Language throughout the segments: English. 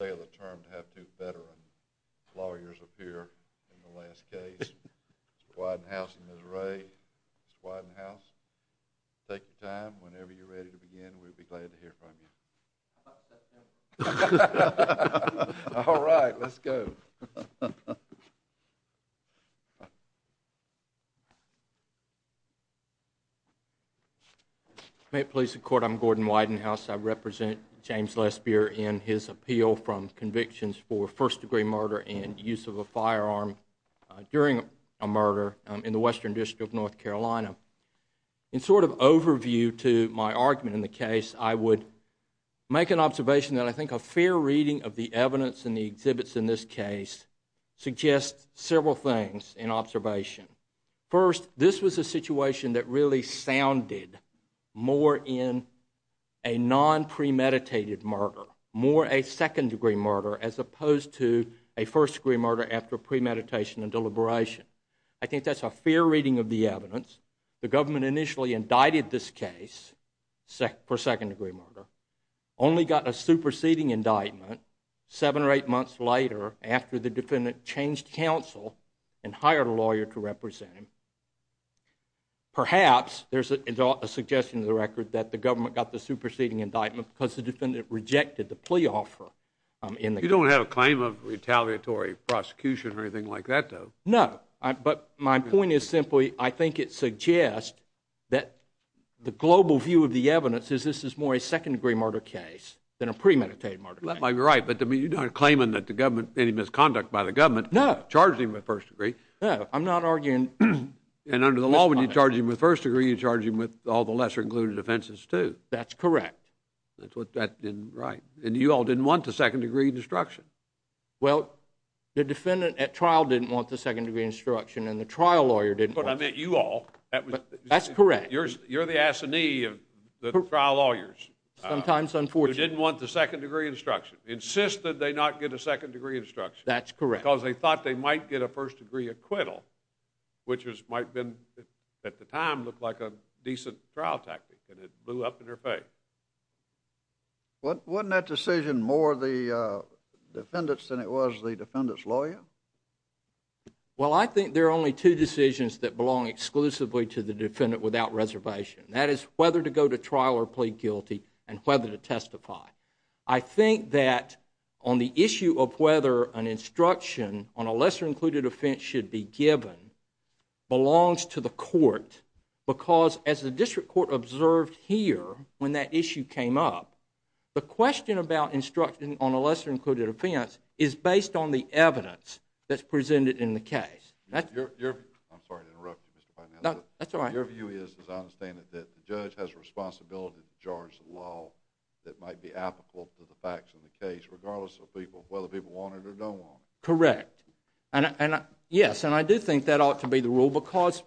to have two veteran lawyers appear in the last case. Mr. Widenhouse and Ms. Ray. Mr. Widenhouse, take your time. Whenever you're ready to begin, we'll be glad to hear from you. How about September? All right, let's go. May it please the Court, I'm Gordon Widenhouse. I represent James Lespier in his appeal from convictions for first-degree murder and use of a firearm during a murder in the Western District of North Carolina. In sort of overview to my argument in the case, I would make an several things in observation. First, this was a situation that really sounded more in a non-premeditated murder, more a second-degree murder as opposed to a first-degree murder after premeditation and deliberation. I think that's a fair reading of the evidence. The government initially indicted this case for second-degree murder, only got a superseding indictment seven or eight months later after the defendant changed counsel and hired a lawyer to represent him. Perhaps there's a suggestion to the record that the government got the superseding indictment because the defendant rejected the plea offer in the case. You don't have a claim of retaliatory prosecution or anything like that, though? No, but my point is simply I think it suggests that the global view of the evidence is this is more a second-degree murder case than a premeditated murder case. That might be right, but I mean, you're not claiming that the government, any misconduct by the government charged him with first-degree. No, I'm not arguing. And under the law, when you charge him with first-degree, you charge him with all the lesser-included offenses, too. That's correct. That's what that, right. And you all didn't want the second-degree destruction. Well, the defendant at trial didn't want the second-degree destruction and the trial lawyer didn't want it. But I meant you all. That's correct. You're the assignee of the trial lawyers who didn't want the second-degree destruction, insisted they not get a second-degree destruction. That's correct. Because they thought they might get a first-degree acquittal, which might have been, at the time, looked like a decent trial tactic, and it blew up in their face. Wasn't that decision more the defendant's than it was the defendant's lawyer? Well, I think there are only two decisions that belong exclusively to the defendant without reservation. That is whether to go to trial or plead guilty and whether to testify. I think that on the issue of whether an instruction on a lesser-included offense should be given belongs to the court because, as the district court observed here when that issue came up, the question about instruction on a lesser-included offense is based on the evidence that's presented in the case. I'm sorry to interrupt you, Mr. Bynum. That's all right. Your view is, as I understand it, that the judge has a responsibility to charge the law that might be applicable to the facts of the case, regardless of whether people want it or don't want it. Correct. Yes, and I do think that ought to be the rule because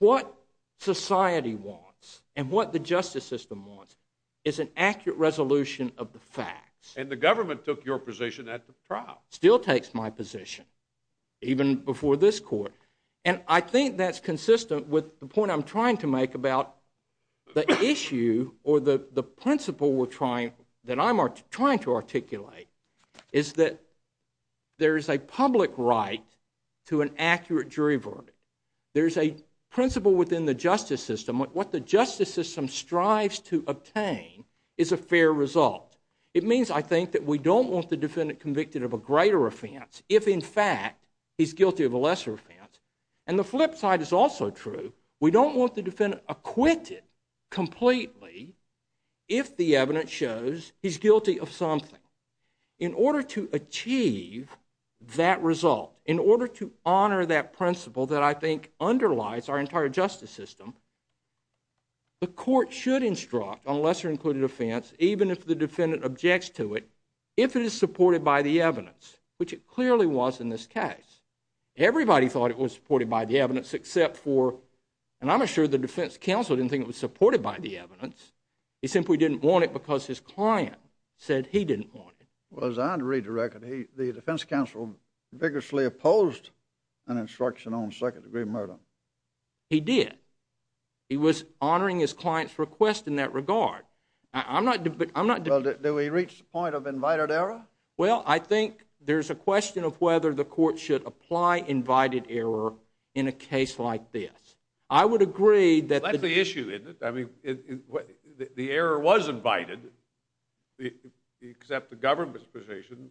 what society wants and what the justice system wants is an accurate resolution of the facts. And the government took your position at the trial. Still takes my position, even before this court. And I think that's consistent with the point I'm trying to make about the issue or the principle that I'm trying to articulate is that there is a public right to an accurate jury verdict. There's a principle within the justice system. What the justice system strives to obtain is a fair result. It means, I think, that we don't want the defendant convicted of a greater offense if, in fact, he's guilty of a lesser offense. And the flip side is also true. We don't want the defendant acquitted completely if the evidence shows he's guilty of something. In order to achieve that result, in order to honor that principle that I think underlies our entire justice system, the court should instruct on lesser-included offense, even if the defendant objects to it, if it is supported by the evidence, which it clearly was in this case. Everybody thought it was supported by the evidence except for, and I'm sure the defense counsel didn't think it was supported by the evidence. He simply didn't want it because his client said he didn't want it. Well, as I read the record, the defense counsel vigorously opposed an instruction on second-degree murder. He did. He was honoring his client's request in that regard. Well, do we reach the point of invited error? Well, I think there's a question of whether the court should apply invited error in a case like this. I would agree that the issue in it, I mean, the error was invited except the government's position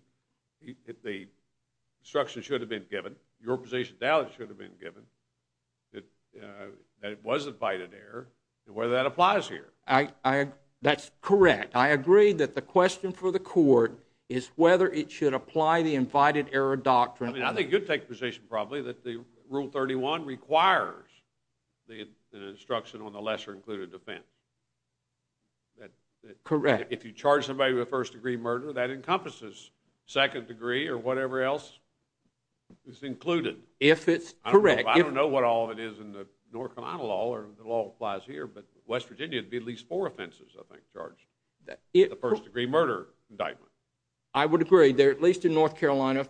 that the instruction should have been given, your position now that it should have been given, that it was invited error, and whether that applies here. That's correct. I agree that the question for the court is whether it should apply the invited error doctrine. I mean, I think you'd take the position probably that the Rule 31 requires an instruction on the lesser-included offense. Correct. If you charge somebody with a first-degree murder, that encompasses second-degree or whatever else is included. If it's correct. I don't know what all it is in the North Carolina law or the law that applies here, but West County has at least four offenses, I think, charged with a first-degree murder indictment. I would agree. There are, at least in North Carolina,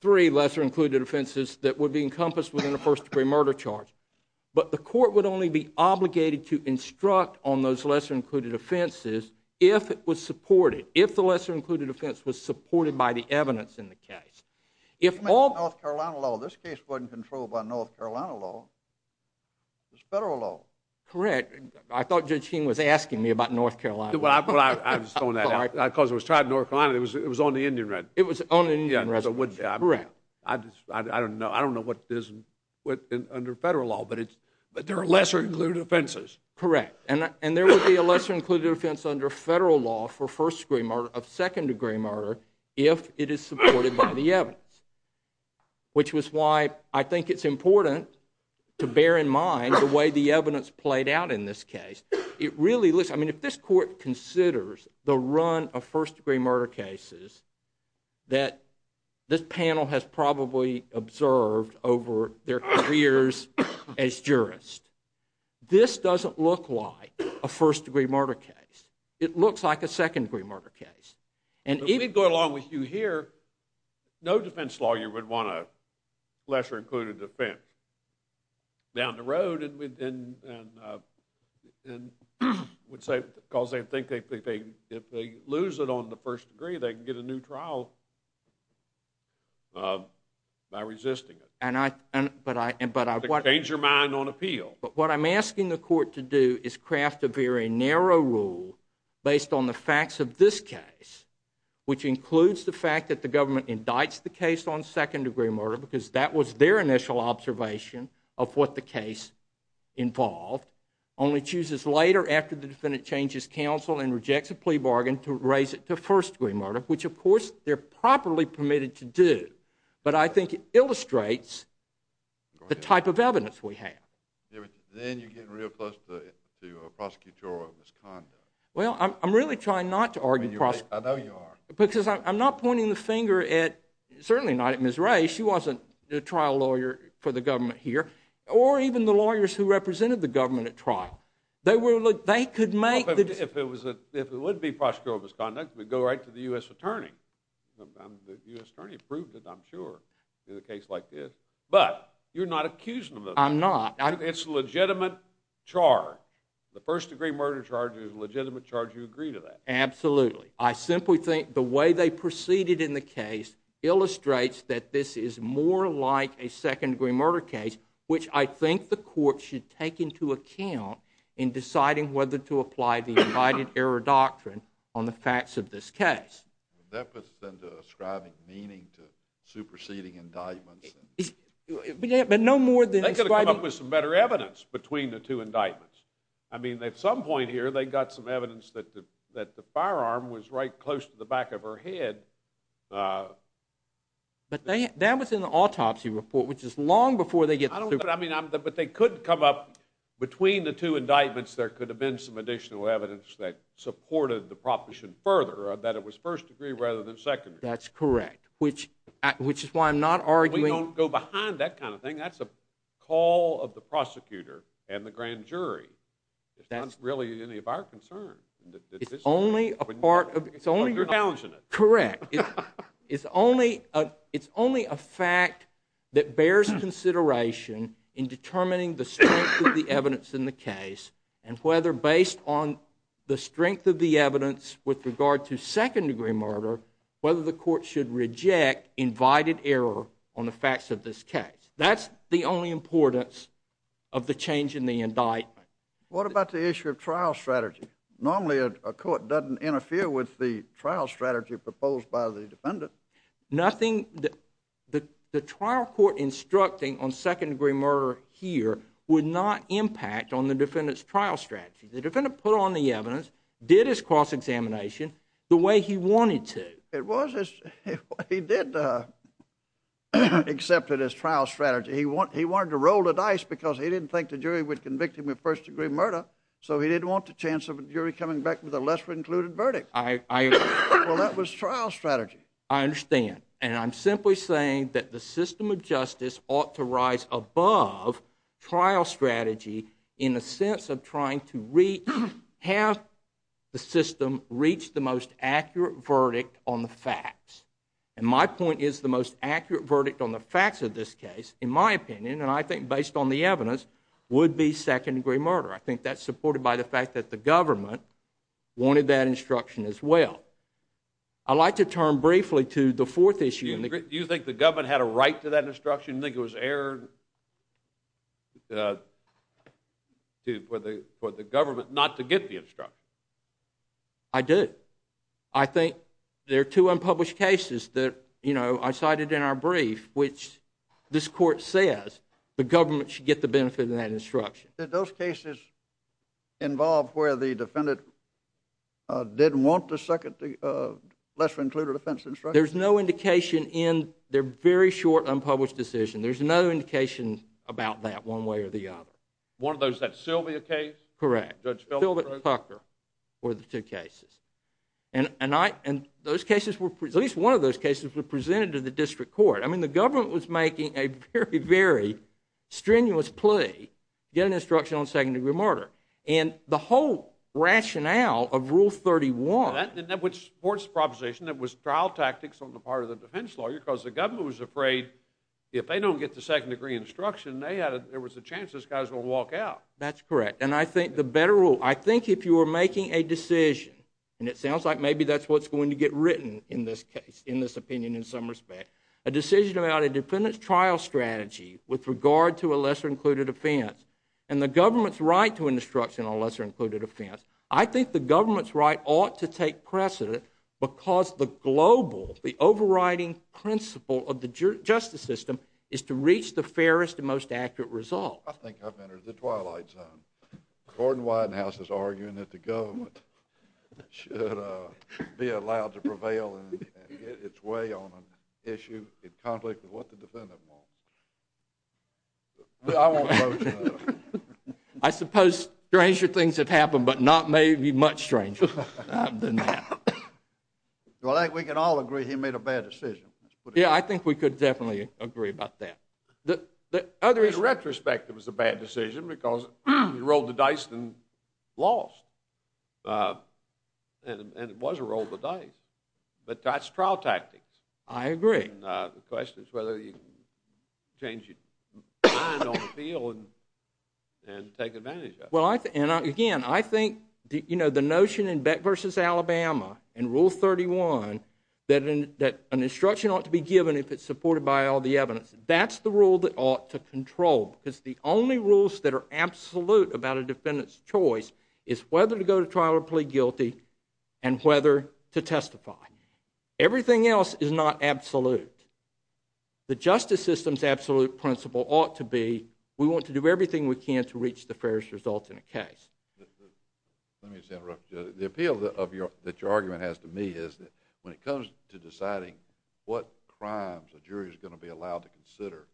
three lesser-included offenses that would be encompassed within a first-degree murder charge. But the court would only be obligated to instruct on those lesser-included offenses if it was supported, if the lesser-included offense was supported by the evidence in the case. If all— I'm talking about the North Carolina law. This case wasn't controlled by North Carolina law, it was federal law. Correct. I thought Judge Keene was asking me about North Carolina. Well, I was throwing that out because it was tried in North Carolina, it was on the Indian Residence. It was on the Indian Residence. Correct. I don't know. I don't know what it is under federal law, but there are lesser-included offenses. Correct. And there would be a lesser-included offense under federal law for first-degree murder of second-degree murder if it is supported by the evidence, which was why I think it's out in this case. It really looks—I mean, if this court considers the run of first-degree murder cases that this panel has probably observed over their careers as jurists, this doesn't look like a first-degree murder case. It looks like a second-degree murder case. And even— If we go along with you here, no defense lawyer would want a lesser-included offense. Down the road, and would say, because they think if they lose it on the first degree, they can get a new trial by resisting it. And I— To change your mind on appeal. But what I'm asking the court to do is craft a very narrow rule based on the facts of this case, which includes the fact that the government indicts the case on second-degree murder because that was their initial observation of what the case involved, only chooses later after the defendant changes counsel and rejects a plea bargain to raise it to first-degree murder, which, of course, they're properly permitted to do. But I think it illustrates the type of evidence we have. Yeah, but then you're getting real close to prosecutorial misconduct. Well, I'm really trying not to argue prosecutorial— I know you are. Because I'm not pointing the finger at— certainly not at Ms. Wray. She wasn't the trial lawyer for the government here. Or even the lawyers who represented the government at trial. They were— they could make the— If it was a— if it would be prosecutorial misconduct, we'd go right to the U.S. attorney. The U.S. attorney approved it, I'm sure, in a case like this. But you're not accusing them of that. I'm not. It's a legitimate charge. The first-degree murder charge is a legitimate charge. You agree to that. Absolutely. I simply think the way they proceeded in the case illustrates that this is more like a second-degree murder case, which I think the court should take into account in deciding whether to apply the righted error doctrine on the facts of this case. That puts them to ascribing meaning to superseding indictments. But no more than ascribing— They could have come up with some better evidence between the two indictments. I mean, at some point here, they got some evidence that the firearm was right close to the back of her head. But that was in the autopsy report, which is long before they get— But they could come up— between the two indictments, there could have been some additional evidence that supported the proposition further, that it was first-degree rather than second-degree. That's correct, which is why I'm not arguing— We don't go behind that kind of thing. I mean, that's a call of the prosecutor and the grand jury. It's not really any of our concern. It's only a part of— It's only— You're challenging it. Correct. It's only a fact that bears consideration in determining the strength of the evidence in the case and whether, based on the strength of the evidence with regard to second-degree murder, whether the court should reject invited error on the facts of this case. That's the only importance of the change in the indictment. What about the issue of trial strategy? Normally, a court doesn't interfere with the trial strategy proposed by the defendant. Nothing— The trial court instructing on second-degree murder here would not impact on the defendant's trial strategy. The defendant put on the evidence, did his cross-examination the way he wanted to. It was as— He did accept it as trial strategy. He wanted to roll the dice because he didn't think the jury would convict him of first-degree murder, so he didn't want the chance of a jury coming back with a lesser-included verdict. I— Well, that was trial strategy. I understand. And I'm simply saying that the system of justice ought to rise above trial strategy in a sense of trying to have the system reach the most accurate verdict on the facts. And my point is the most accurate verdict on the facts of this case, in my opinion, and I think based on the evidence, would be second-degree murder. I think that's supported by the fact that the government wanted that instruction as well. I'd like to turn briefly to the fourth issue. Do you think the government had a right to that instruction? Do you think it was error for the government not to get the instruction? I do. I think there are two unpublished cases that, you know, I cited in our brief, which this court says the government should get the benefit of that instruction. Did those cases involve where the defendant didn't want the second— the lesser-included offense instruction? There's no indication in their very short unpublished decision. There's no indication about that one way or the other. One of those, that Sylvia case? Correct. Judge Philpott and Pucker were the two cases. And those cases were— at least one of those cases were presented to the district court. I mean, the government was making a very, very strenuous plea to get an instruction on second-degree murder. And the whole rationale of Rule 31— That's correct. And I think the better rule— I think if you were making a decision— and it sounds like maybe that's what's going to get written in this case, in this opinion in some respect— a decision about a defendant's trial strategy with regard to a lesser-included offense and the government's right to instruction on lesser-included offense, I think the government's precedent because the global— the overriding principle of the justice system is to reach the fairest and most accurate result. I think I've entered the twilight zone. Gordon Whitehouse is arguing that the government should be allowed to prevail and get its way on an issue in conflict with what the defendant wants. I won't quote you on that. I suppose stranger things have happened, but not maybe much stranger than that. Well, I think we can all agree he made a bad decision. Yeah, I think we could definitely agree about that. In retrospect, it was a bad decision because he rolled the dice and lost. And it was a roll the dice. But that's trial tactics. I agree. And the question is whether you change your mind on the field and take advantage of it. And again, I think the notion in Beck v. Alabama in Rule 31 that an instruction ought to be given if it's supported by all the evidence, that's the rule that ought to control because the only rules that are absolute about a defendant's choice is whether to go to trial or plead guilty and whether to testify. Everything else is not absolute. The justice system's absolute principle ought to be we want to do everything we can to reach the fairest result in a case. Let me just interrupt you. The appeal that your argument has to me is that when it comes to deciding what crimes a jury is going to be allowed to consider,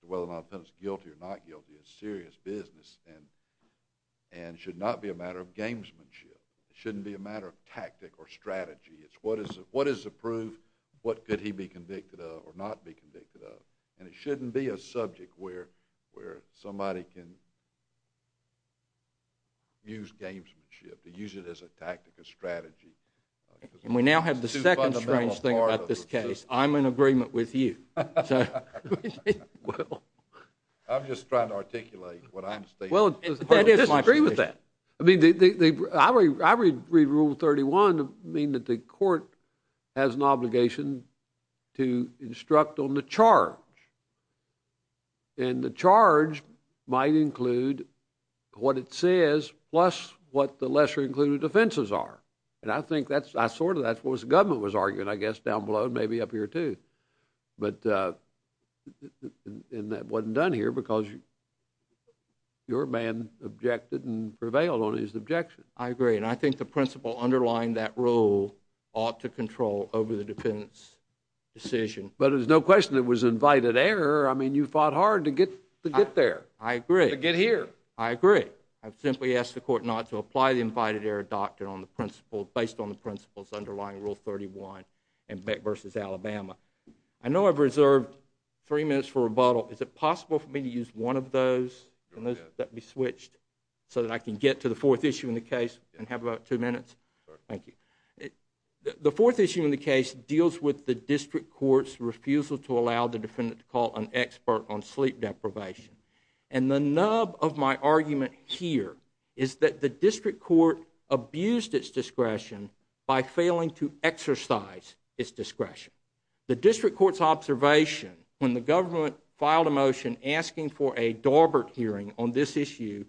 whether or not a defendant's guilty or not guilty, is serious business and should not be a matter of gamesmanship. It shouldn't be a matter of tactic or strategy. It's what is approved, what could he be convicted of or not be convicted of. And it shouldn't be a subject where somebody can use gamesmanship, to use it as a tactic or strategy. And we now have the second strange thing about this case. I'm in agreement with you. I'm just trying to articulate what I'm stating. Well, I disagree with that. I mean, I read Rule 31 to mean that the court has an obligation to instruct on the charge. And the charge might include what it says plus what the lesser included offenses are. And I think that's sort of what the government was arguing, I guess, down below and maybe up here too. But that wasn't done here because your man objected and prevailed on his objection. I agree. And I think the principle underlying that rule ought to control over the defendant's decision. But there's no question it was invited error. I mean, you fought hard to get there. I agree. To get here. I agree. I simply ask the court not to apply the invited error doctrine based on the principles underlying Rule 31 and Beck v. Alabama. I know I've reserved three minutes for rebuttal. Is it possible for me to use one of those and let that be switched so that I can get to the fourth issue in the case and have about two minutes? Sure. Thank you. The fourth issue in the case deals with the district court's refusal to allow the defendant to call an expert on sleep deprivation. And the nub of my argument here is that the district court abused its discretion by failing to exercise its discretion. The district court's observation when the government filed a motion asking for a Dorbert hearing on this issue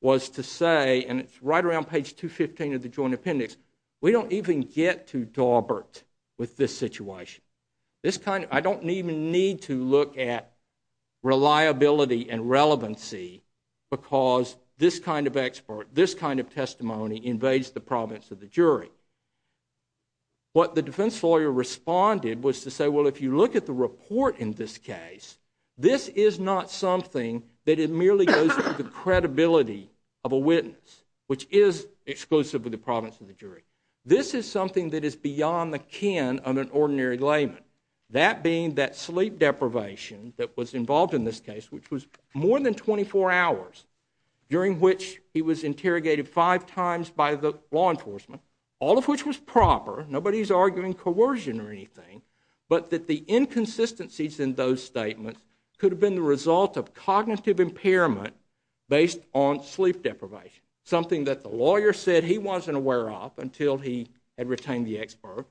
was to say, and it's right around page 215 of the joint appendix, we don't even get to Dorbert with this situation. This kind of, I don't even need to look at reliability and relevancy because this kind of expert, this kind of testimony invades the province of the jury. What the defense lawyer responded was to say, well, if you look at the report in this case, this is not something that it merely goes to the credibility of a witness, which is exclusive of the province of the jury. This is something that is beyond the kin of an ordinary layman. That being that sleep deprivation that was involved in this case, which was more than 24 hours, during which he was interrogated five times by the law enforcement, all of which was proper, nobody's arguing coercion or anything, but that the inconsistencies in those statements could have been the result of cognitive impairment based on sleep deprivation. Something that the lawyer said he wasn't aware of until he had retained the expert.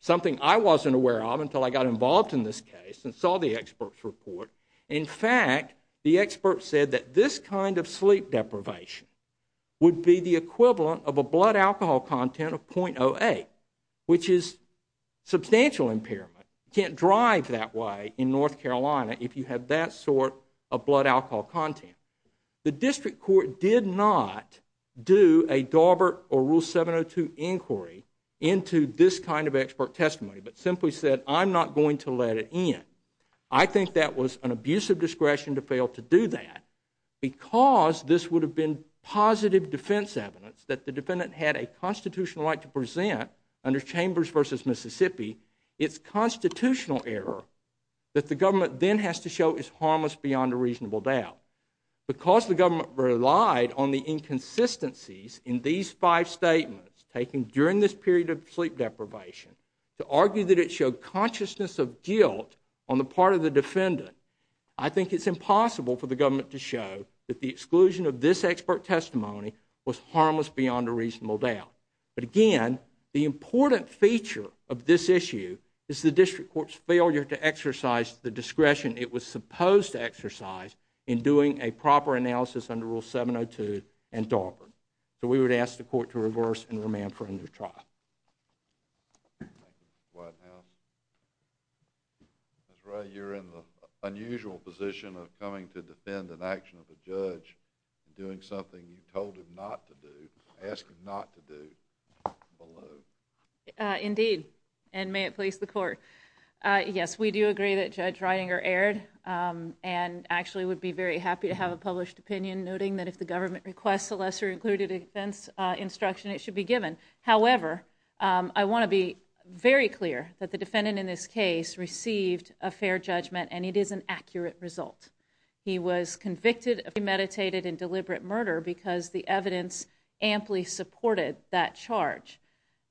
Something I wasn't aware of until I got involved in this case and saw the expert's report. In fact, the expert said that this kind of sleep deprivation would be the equivalent of a blood alcohol content of .08, which is substantial impairment. Can't drive that way in North Carolina if you have that sort of blood alcohol content. The district court did not do a Daubert or Rule 702 inquiry into this kind of expert testimony, but simply said, I'm not going to let it in. I think that was an abuse of discretion to fail to do that because this would have been positive defense evidence that the defendant had a constitutional right to present under Chambers v. Mississippi, it's constitutional error that the government then has to show is harmless beyond a reasonable doubt. Because the government relied on the inconsistencies in these five statements taken during this trial, the consciousness of guilt on the part of the defendant, I think it's impossible for the government to show that the exclusion of this expert testimony was harmless beyond a reasonable doubt. But again, the important feature of this issue is the district court's failure to exercise the discretion it was supposed to exercise in doing a proper analysis under Rule 702 and Daubert. So we would ask the court to reverse and remand for another trial. Thank you. White House. Ms. Wray, you're in the unusual position of coming to defend an action of a judge and doing something you told him not to do, asked him not to do, below. Indeed, and may it please the court. Yes, we do agree that Judge Ridinger erred and actually would be very happy to have a published opinion noting that if the government requests a lesser included defense instruction, it should be given. However, I want to be very clear that the defendant in this case received a fair judgment and it is an accurate result. He was convicted of premeditated and deliberate murder because the evidence amply supported that charge.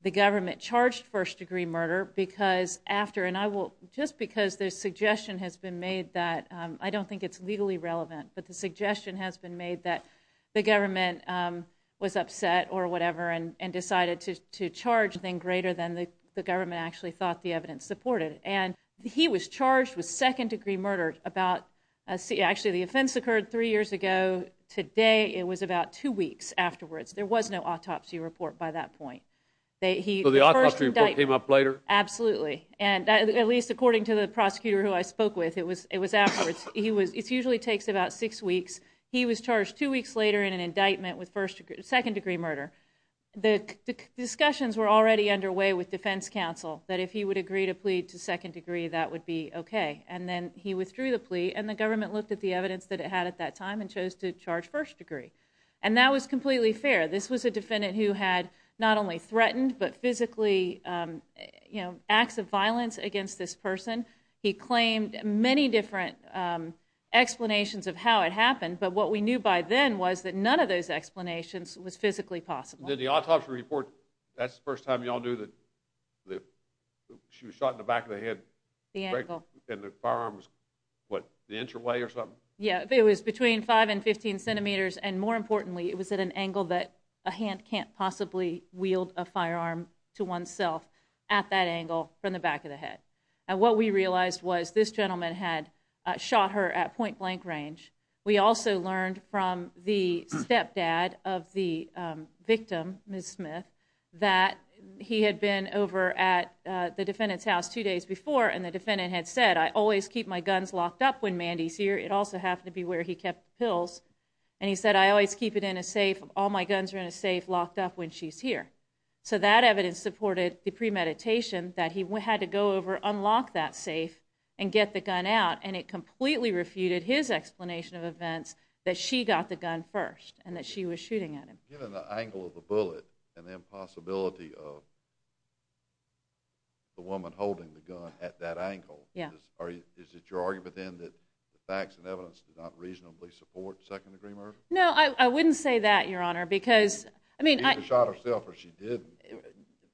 The government charged first degree murder because after, and I will, just because the suggestion has been made that, I don't think it's legally relevant, but the suggestion has been made that the government was upset or whatever and decided to charge something greater than the government actually thought the evidence supported. And he was charged with second degree murder about, actually the offense occurred three years ago. Today it was about two weeks afterwards. There was no autopsy report by that point. So the autopsy report came up later? Absolutely. And at least according to the prosecutor who I spoke with, it was afterwards. It usually takes about six weeks. He was charged two weeks later in an indictment with second degree murder. The discussions were already underway with defense counsel that if he would agree to plead to second degree, that would be okay. And then he withdrew the plea and the government looked at the evidence that it had at that time and chose to charge first degree. And that was completely fair. This was a defendant who had not only threatened but physically, you know, acts of violence against this person. He claimed many different explanations of how it happened. But what we knew by then was that none of those explanations was physically possible. Did the autopsy report, that's the first time you all knew that she was shot in the back of the head? The angle. And the firearm was, what, an inch away or something? Yeah, it was between five and 15 centimeters. And more importantly, it was at an angle that a hand can't possibly wield a firearm to oneself at that angle from the back of the head. And what we realized was this gentleman had shot her at point blank range. We also learned from the stepdad of the victim, Ms. Smith, that he had been over at the defendant's house two days before and the defendant had said, I always keep my guns locked up when Mandy's here. It also happened to be where he kept the pills. And he said, I always keep it in a safe. All my guns are in a safe locked up when she's here. So that evidence supported the premeditation that he had to go over, unlock that safe, and get the gun out. And it completely refuted his explanation of events that she got the gun first and that she was shooting at him. Given the angle of the bullet and the impossibility of the woman holding the gun at that angle, is it your argument then that the facts and evidence do not reasonably support second degree murder? No, I wouldn't say that, Your Honor. She either shot herself or she didn't.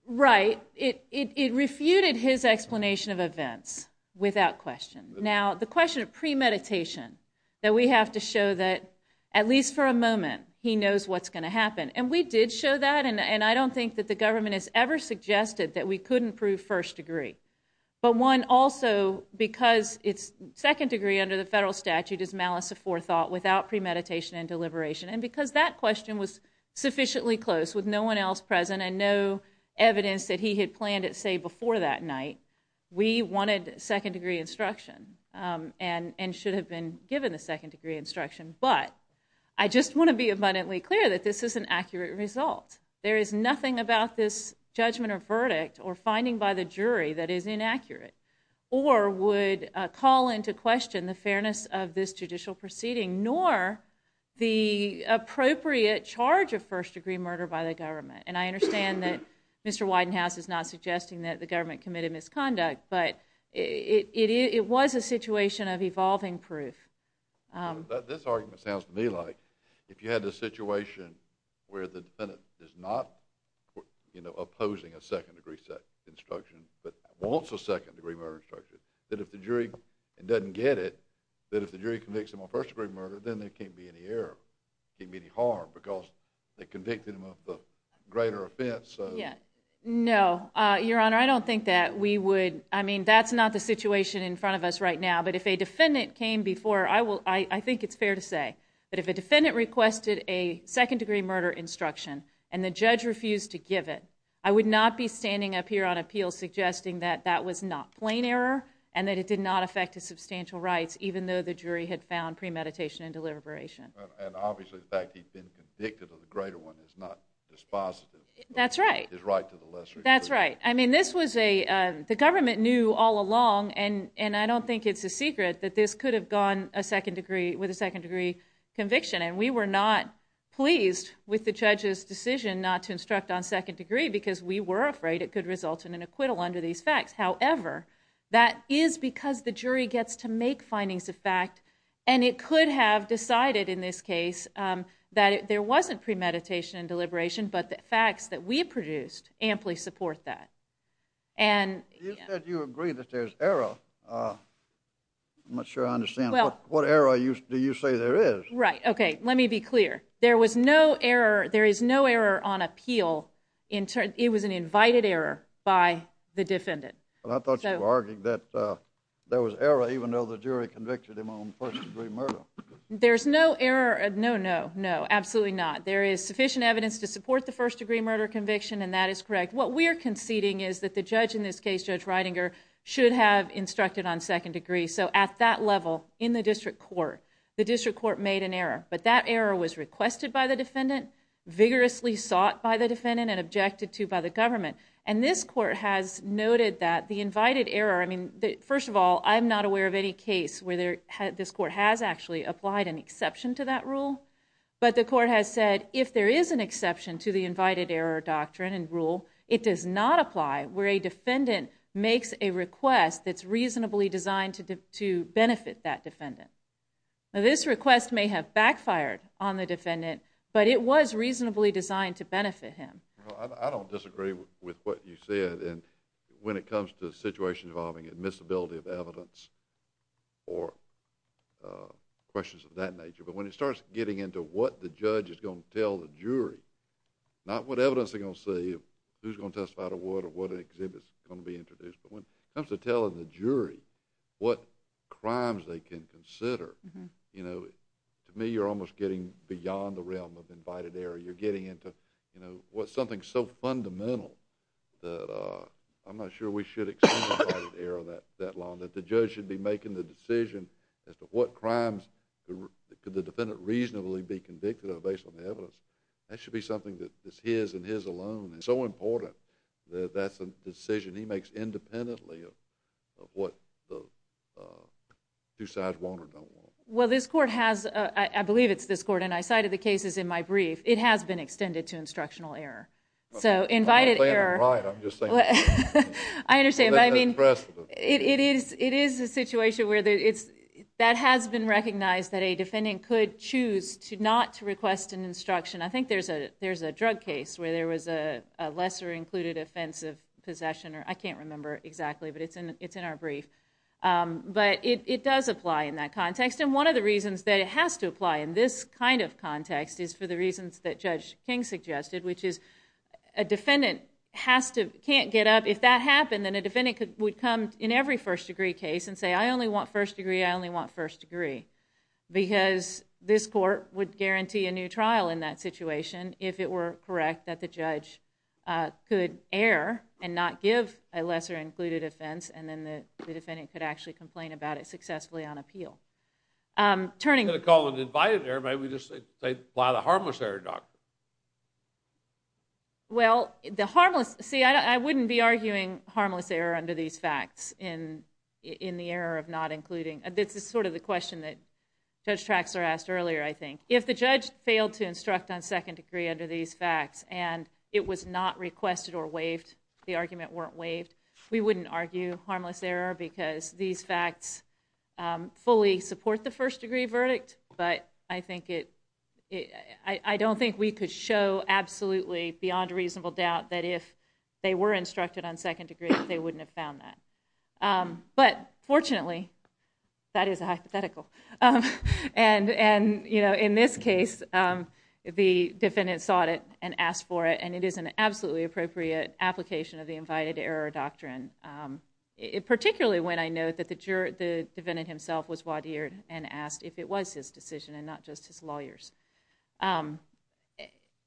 Right. It refuted his explanation of events without question. Now, the question of premeditation, that we have to show that at least for a moment, he knows what's going to happen. And we did show that. And I don't think that the government has ever suggested that we couldn't prove first degree. But one, also, because second degree under the federal statute is malice of forethought without premeditation and deliberation. And because that question was sufficiently close with no one else present and no evidence that he had planned it, say, before that night, we wanted second degree instruction and should have been given the second degree instruction. But I just want to be abundantly clear that this is an accurate result. There is nothing about this judgment or verdict or finding by the jury that is inaccurate or would call into question the fairness of this judicial proceeding, nor the appropriate charge of first degree murder by the government. And I understand that Mr. Widenhouse is not suggesting that the government committed misconduct. But it was a situation of evolving proof. This argument sounds to me like if you had a situation where the defendant is not opposing a second degree instruction, but wants a second degree murder instruction, that if the jury doesn't get it, that if the jury convicts him of first degree murder, then there can't be any harm because they convicted him of a greater offense. No. Your Honor, I don't think that we would. I mean, that's not the situation in front of us right now. But if a defendant came before, I think it's fair to say that if a defendant requested a second degree murder instruction and the judge refused to give it, I would not be standing up here on appeal suggesting that that was not plain error and that it did not affect his substantial rights, even though the jury had found premeditation and deliberation. And obviously, the fact that he'd been convicted of a greater one is not dispositive of his right to the lesser degree. That's right. I mean, this was a—the government knew all along, and I don't think it's a secret, that this could have gone with a second degree conviction. And we were not pleased with the judge's decision not to instruct on second degree because we were afraid it could result in an acquittal under these facts. However, that is because the jury gets to make findings of fact, and it could have decided in this case that there wasn't premeditation and deliberation, but the facts that we produced amply support that. And— You said you agree that there's error. I'm not sure I understand. Well— What error do you say there is? Right. Okay. Let me be clear. There was no error—there is no error on appeal. It was an invited error by the defendant. I thought you were arguing that there was error even though the jury convicted him on first degree murder. There's no error—no, no, no. Absolutely not. There is sufficient evidence to support the first degree murder conviction, and that is correct. What we are conceding is that the judge in this case, Judge Reidinger, should have instructed on second degree. So at that level, in the district court, the district court made an error. But that error was requested by the defendant, vigorously sought by the defendant, and objected to by the government. And this court has noted that the invited error—I mean, first of all, I'm not aware of any case where this court has actually applied an exception to that rule, but the court has said if there is an exception to the invited error doctrine and rule, it does not apply where a defendant makes a request that's reasonably designed to benefit that defendant. Now, this request may have backfired on the defendant, but it was reasonably designed to benefit him. Well, I don't disagree with what you said when it comes to situations involving admissibility of evidence or questions of that nature. But when it starts getting into what the judge is going to tell the jury, not what evidence they're going to see, who's going to testify to what or what exhibits are going to be introduced, but when it comes to telling the jury what crimes they can consider, you know, to me you're almost getting beyond the realm of invited error. You're getting into, you know, what's something so fundamental that I'm not sure we should accept invited error that long, that the judge should be making the decision as to what crimes could the defendant reasonably be convicted of based on the evidence. That should be something that is his and his alone. It's so important that that's a decision he makes independently of what the two sides want or don't want. Well, this court has, I believe it's this court, and I cited the cases in my brief, it has been extended to instructional error. So, invited error... I'm not saying I'm right, I'm just saying... I understand, but I mean, it is a situation where that has been recognized that a defendant could choose not to request an instruction. I think there's a drug case where there was a lesser included offense of possession, or I can't remember exactly, but it's in our brief. But it does apply in that context, and one of the reasons that it has to apply in this kind of context is for the reasons that Judge King suggested, which is a defendant can't get up. If that happened, then a defendant would come in every first degree case and say, I only want first degree, I only want first degree, because this court would guarantee a new trial in that situation if it were correct that the judge could err and not give a lesser included offense, and then the defendant could actually complain about it successfully on appeal. Turning... I'm not going to call it invited error, maybe just apply the harmless error doctrine. Well, the harmless... See, I wouldn't be arguing harmless error under these facts in the error of not including... This is sort of the question that Judge Traxler asked earlier, I think. If the judge failed to instruct on second degree under these facts and it was not requested or waived, the argument weren't waived, we wouldn't argue harmless error because these facts fully support the first degree verdict, but I think it... I don't think we could show absolutely beyond reasonable doubt that if they were instructed on second degree, they wouldn't have found that. But fortunately, that is a hypothetical, and in this case, the defendant sought it and asked for it, and it is an absolutely appropriate application of the invited error doctrine, particularly when I know that the defendant himself was wadiered and asked if it was his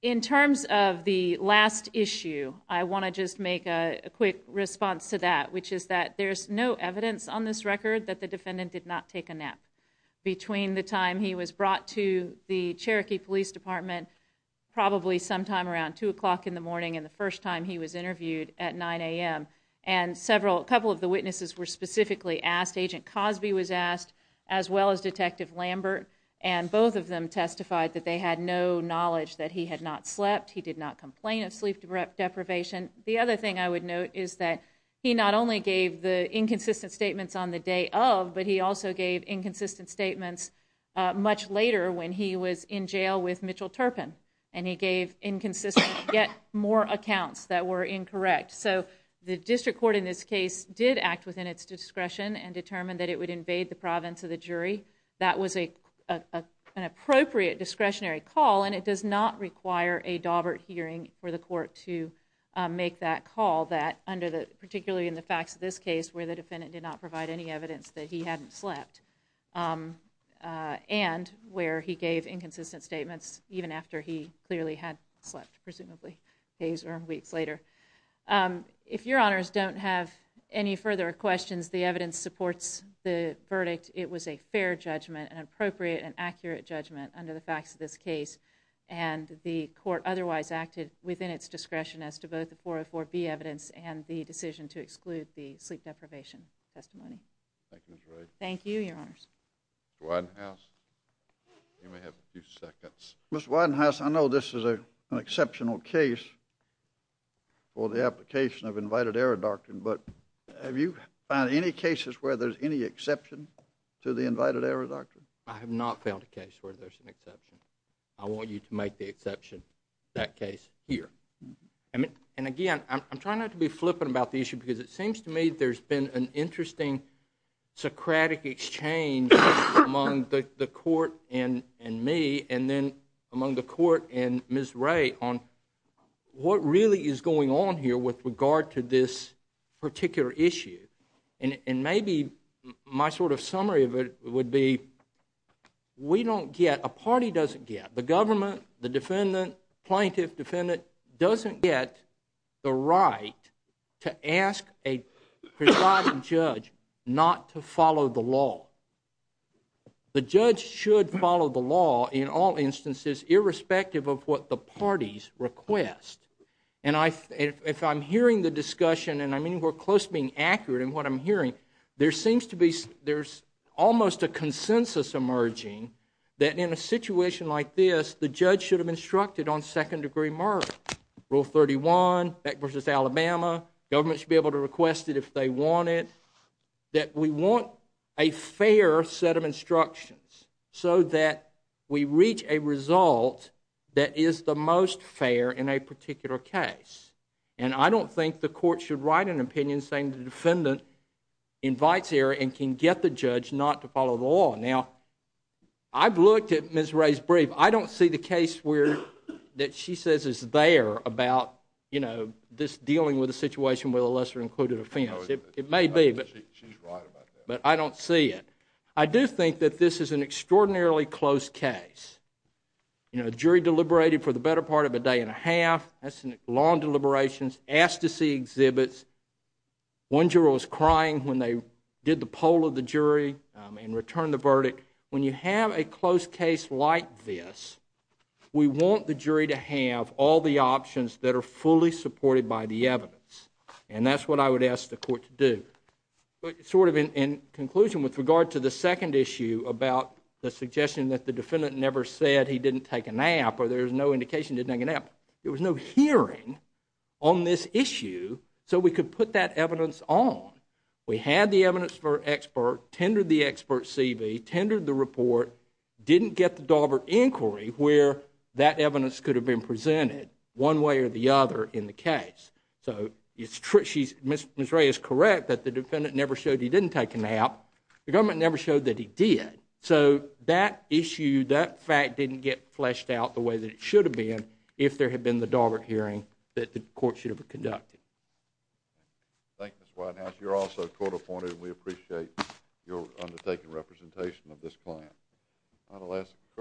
In terms of the last issue, I want to just make a quick response to that, which is that there's no evidence on this record that the defendant did not take a nap between the time he was brought to the Cherokee Police Department, probably sometime around 2 o'clock in the morning and the first time he was interviewed at 9 a.m. And several... A couple of the witnesses were specifically asked, Agent Cosby was asked, as well as Detective Lambert, and both of them testified that they had no knowledge that he had not slept, he did not complain of sleep deprivation. The other thing I would note is that he not only gave the inconsistent statements on the day of, but he also gave inconsistent statements much later when he was in jail with Mitchell Turpin, and he gave inconsistent yet more accounts that were incorrect. So the district court in this case did act within its discretion and determined that it would invade the province of the jury. That was an appropriate discretionary call, and it does not require a Daubert hearing for the court to make that call, particularly in the facts of this case where the defendant did not provide any evidence that he hadn't slept, and where he gave inconsistent statements even after he clearly had slept, presumably days or weeks later. If your honors don't have any further questions, the evidence supports the verdict. It was a fair judgment, an appropriate and accurate judgment under the facts of this case, and the court otherwise acted within its discretion as to both the 404B evidence and the decision to exclude the sleep deprivation testimony. Thank you, your honors. Mr. Widenhouse, you may have a few seconds. Mr. Widenhouse, I know this is an exceptional case for the application of invited error doctrine, but have you found any cases where there's any exception to the invited error doctrine? I have not found a case where there's an exception. I want you to make the exception in that case here. And again, I'm trying not to be flippant about the issue, because it seems to me there's been an interesting Socratic exchange among the court and me, and then among the court and Ms. Ray on what really is going on here with regard to this particular issue. And maybe my sort of summary of it would be, we don't get, a party doesn't get, the government, the defendant, plaintiff, defendant, doesn't get the right to ask a presiding judge not to follow the law. The judge should follow the law in all instances, irrespective of what the parties request. And if I'm hearing the discussion, and I mean we're close to being accurate in what I'm hearing, there seems to be, there's almost a consensus emerging that in a situation like this, the judge should have instructed on second degree murder. Rule 31, Beck v. Alabama, government should be able to request it if they want it. That we want a fair set of instructions so that we reach a result that is the most fair in a particular case. And I don't think the court should write an opinion saying the defendant invites error and can get the judge not to follow the law. Now, I've looked at Ms. Ray's brief. I don't see the case where, that she says is there about, you know, this dealing with a situation with a lesser included offense. It may be. She's right about that. But I don't see it. I do think that this is an extraordinarily close case. You know, jury deliberated for the better part of a day and a half. That's long deliberations. Asked to see exhibits. One juror was crying when they did the poll of the jury and returned the verdict. When you have a close case like this, we want the jury to have all the options that are fully supported by the evidence. And that's what I would ask the court to do. Sort of in conclusion with regard to the second issue about the suggestion that the defendant never said he didn't take a nap or there's no indication he didn't take a nap, there was no hearing on this issue so we could put that evidence on. We had the evidence for expert, tendered the expert's CV, tendered the report, didn't get the Daubert inquiry where that evidence could have been presented one way or the other in the case. Ms. Ray is correct that the defendant never showed he didn't take a nap. The government never showed that he did. So that issue, that fact didn't get fleshed out the way that it should have been if there had been the Daubert hearing that the court should have conducted. Thank you, Mr. Whitehouse. You're also court appointed and we appreciate your undertaking representation of this client.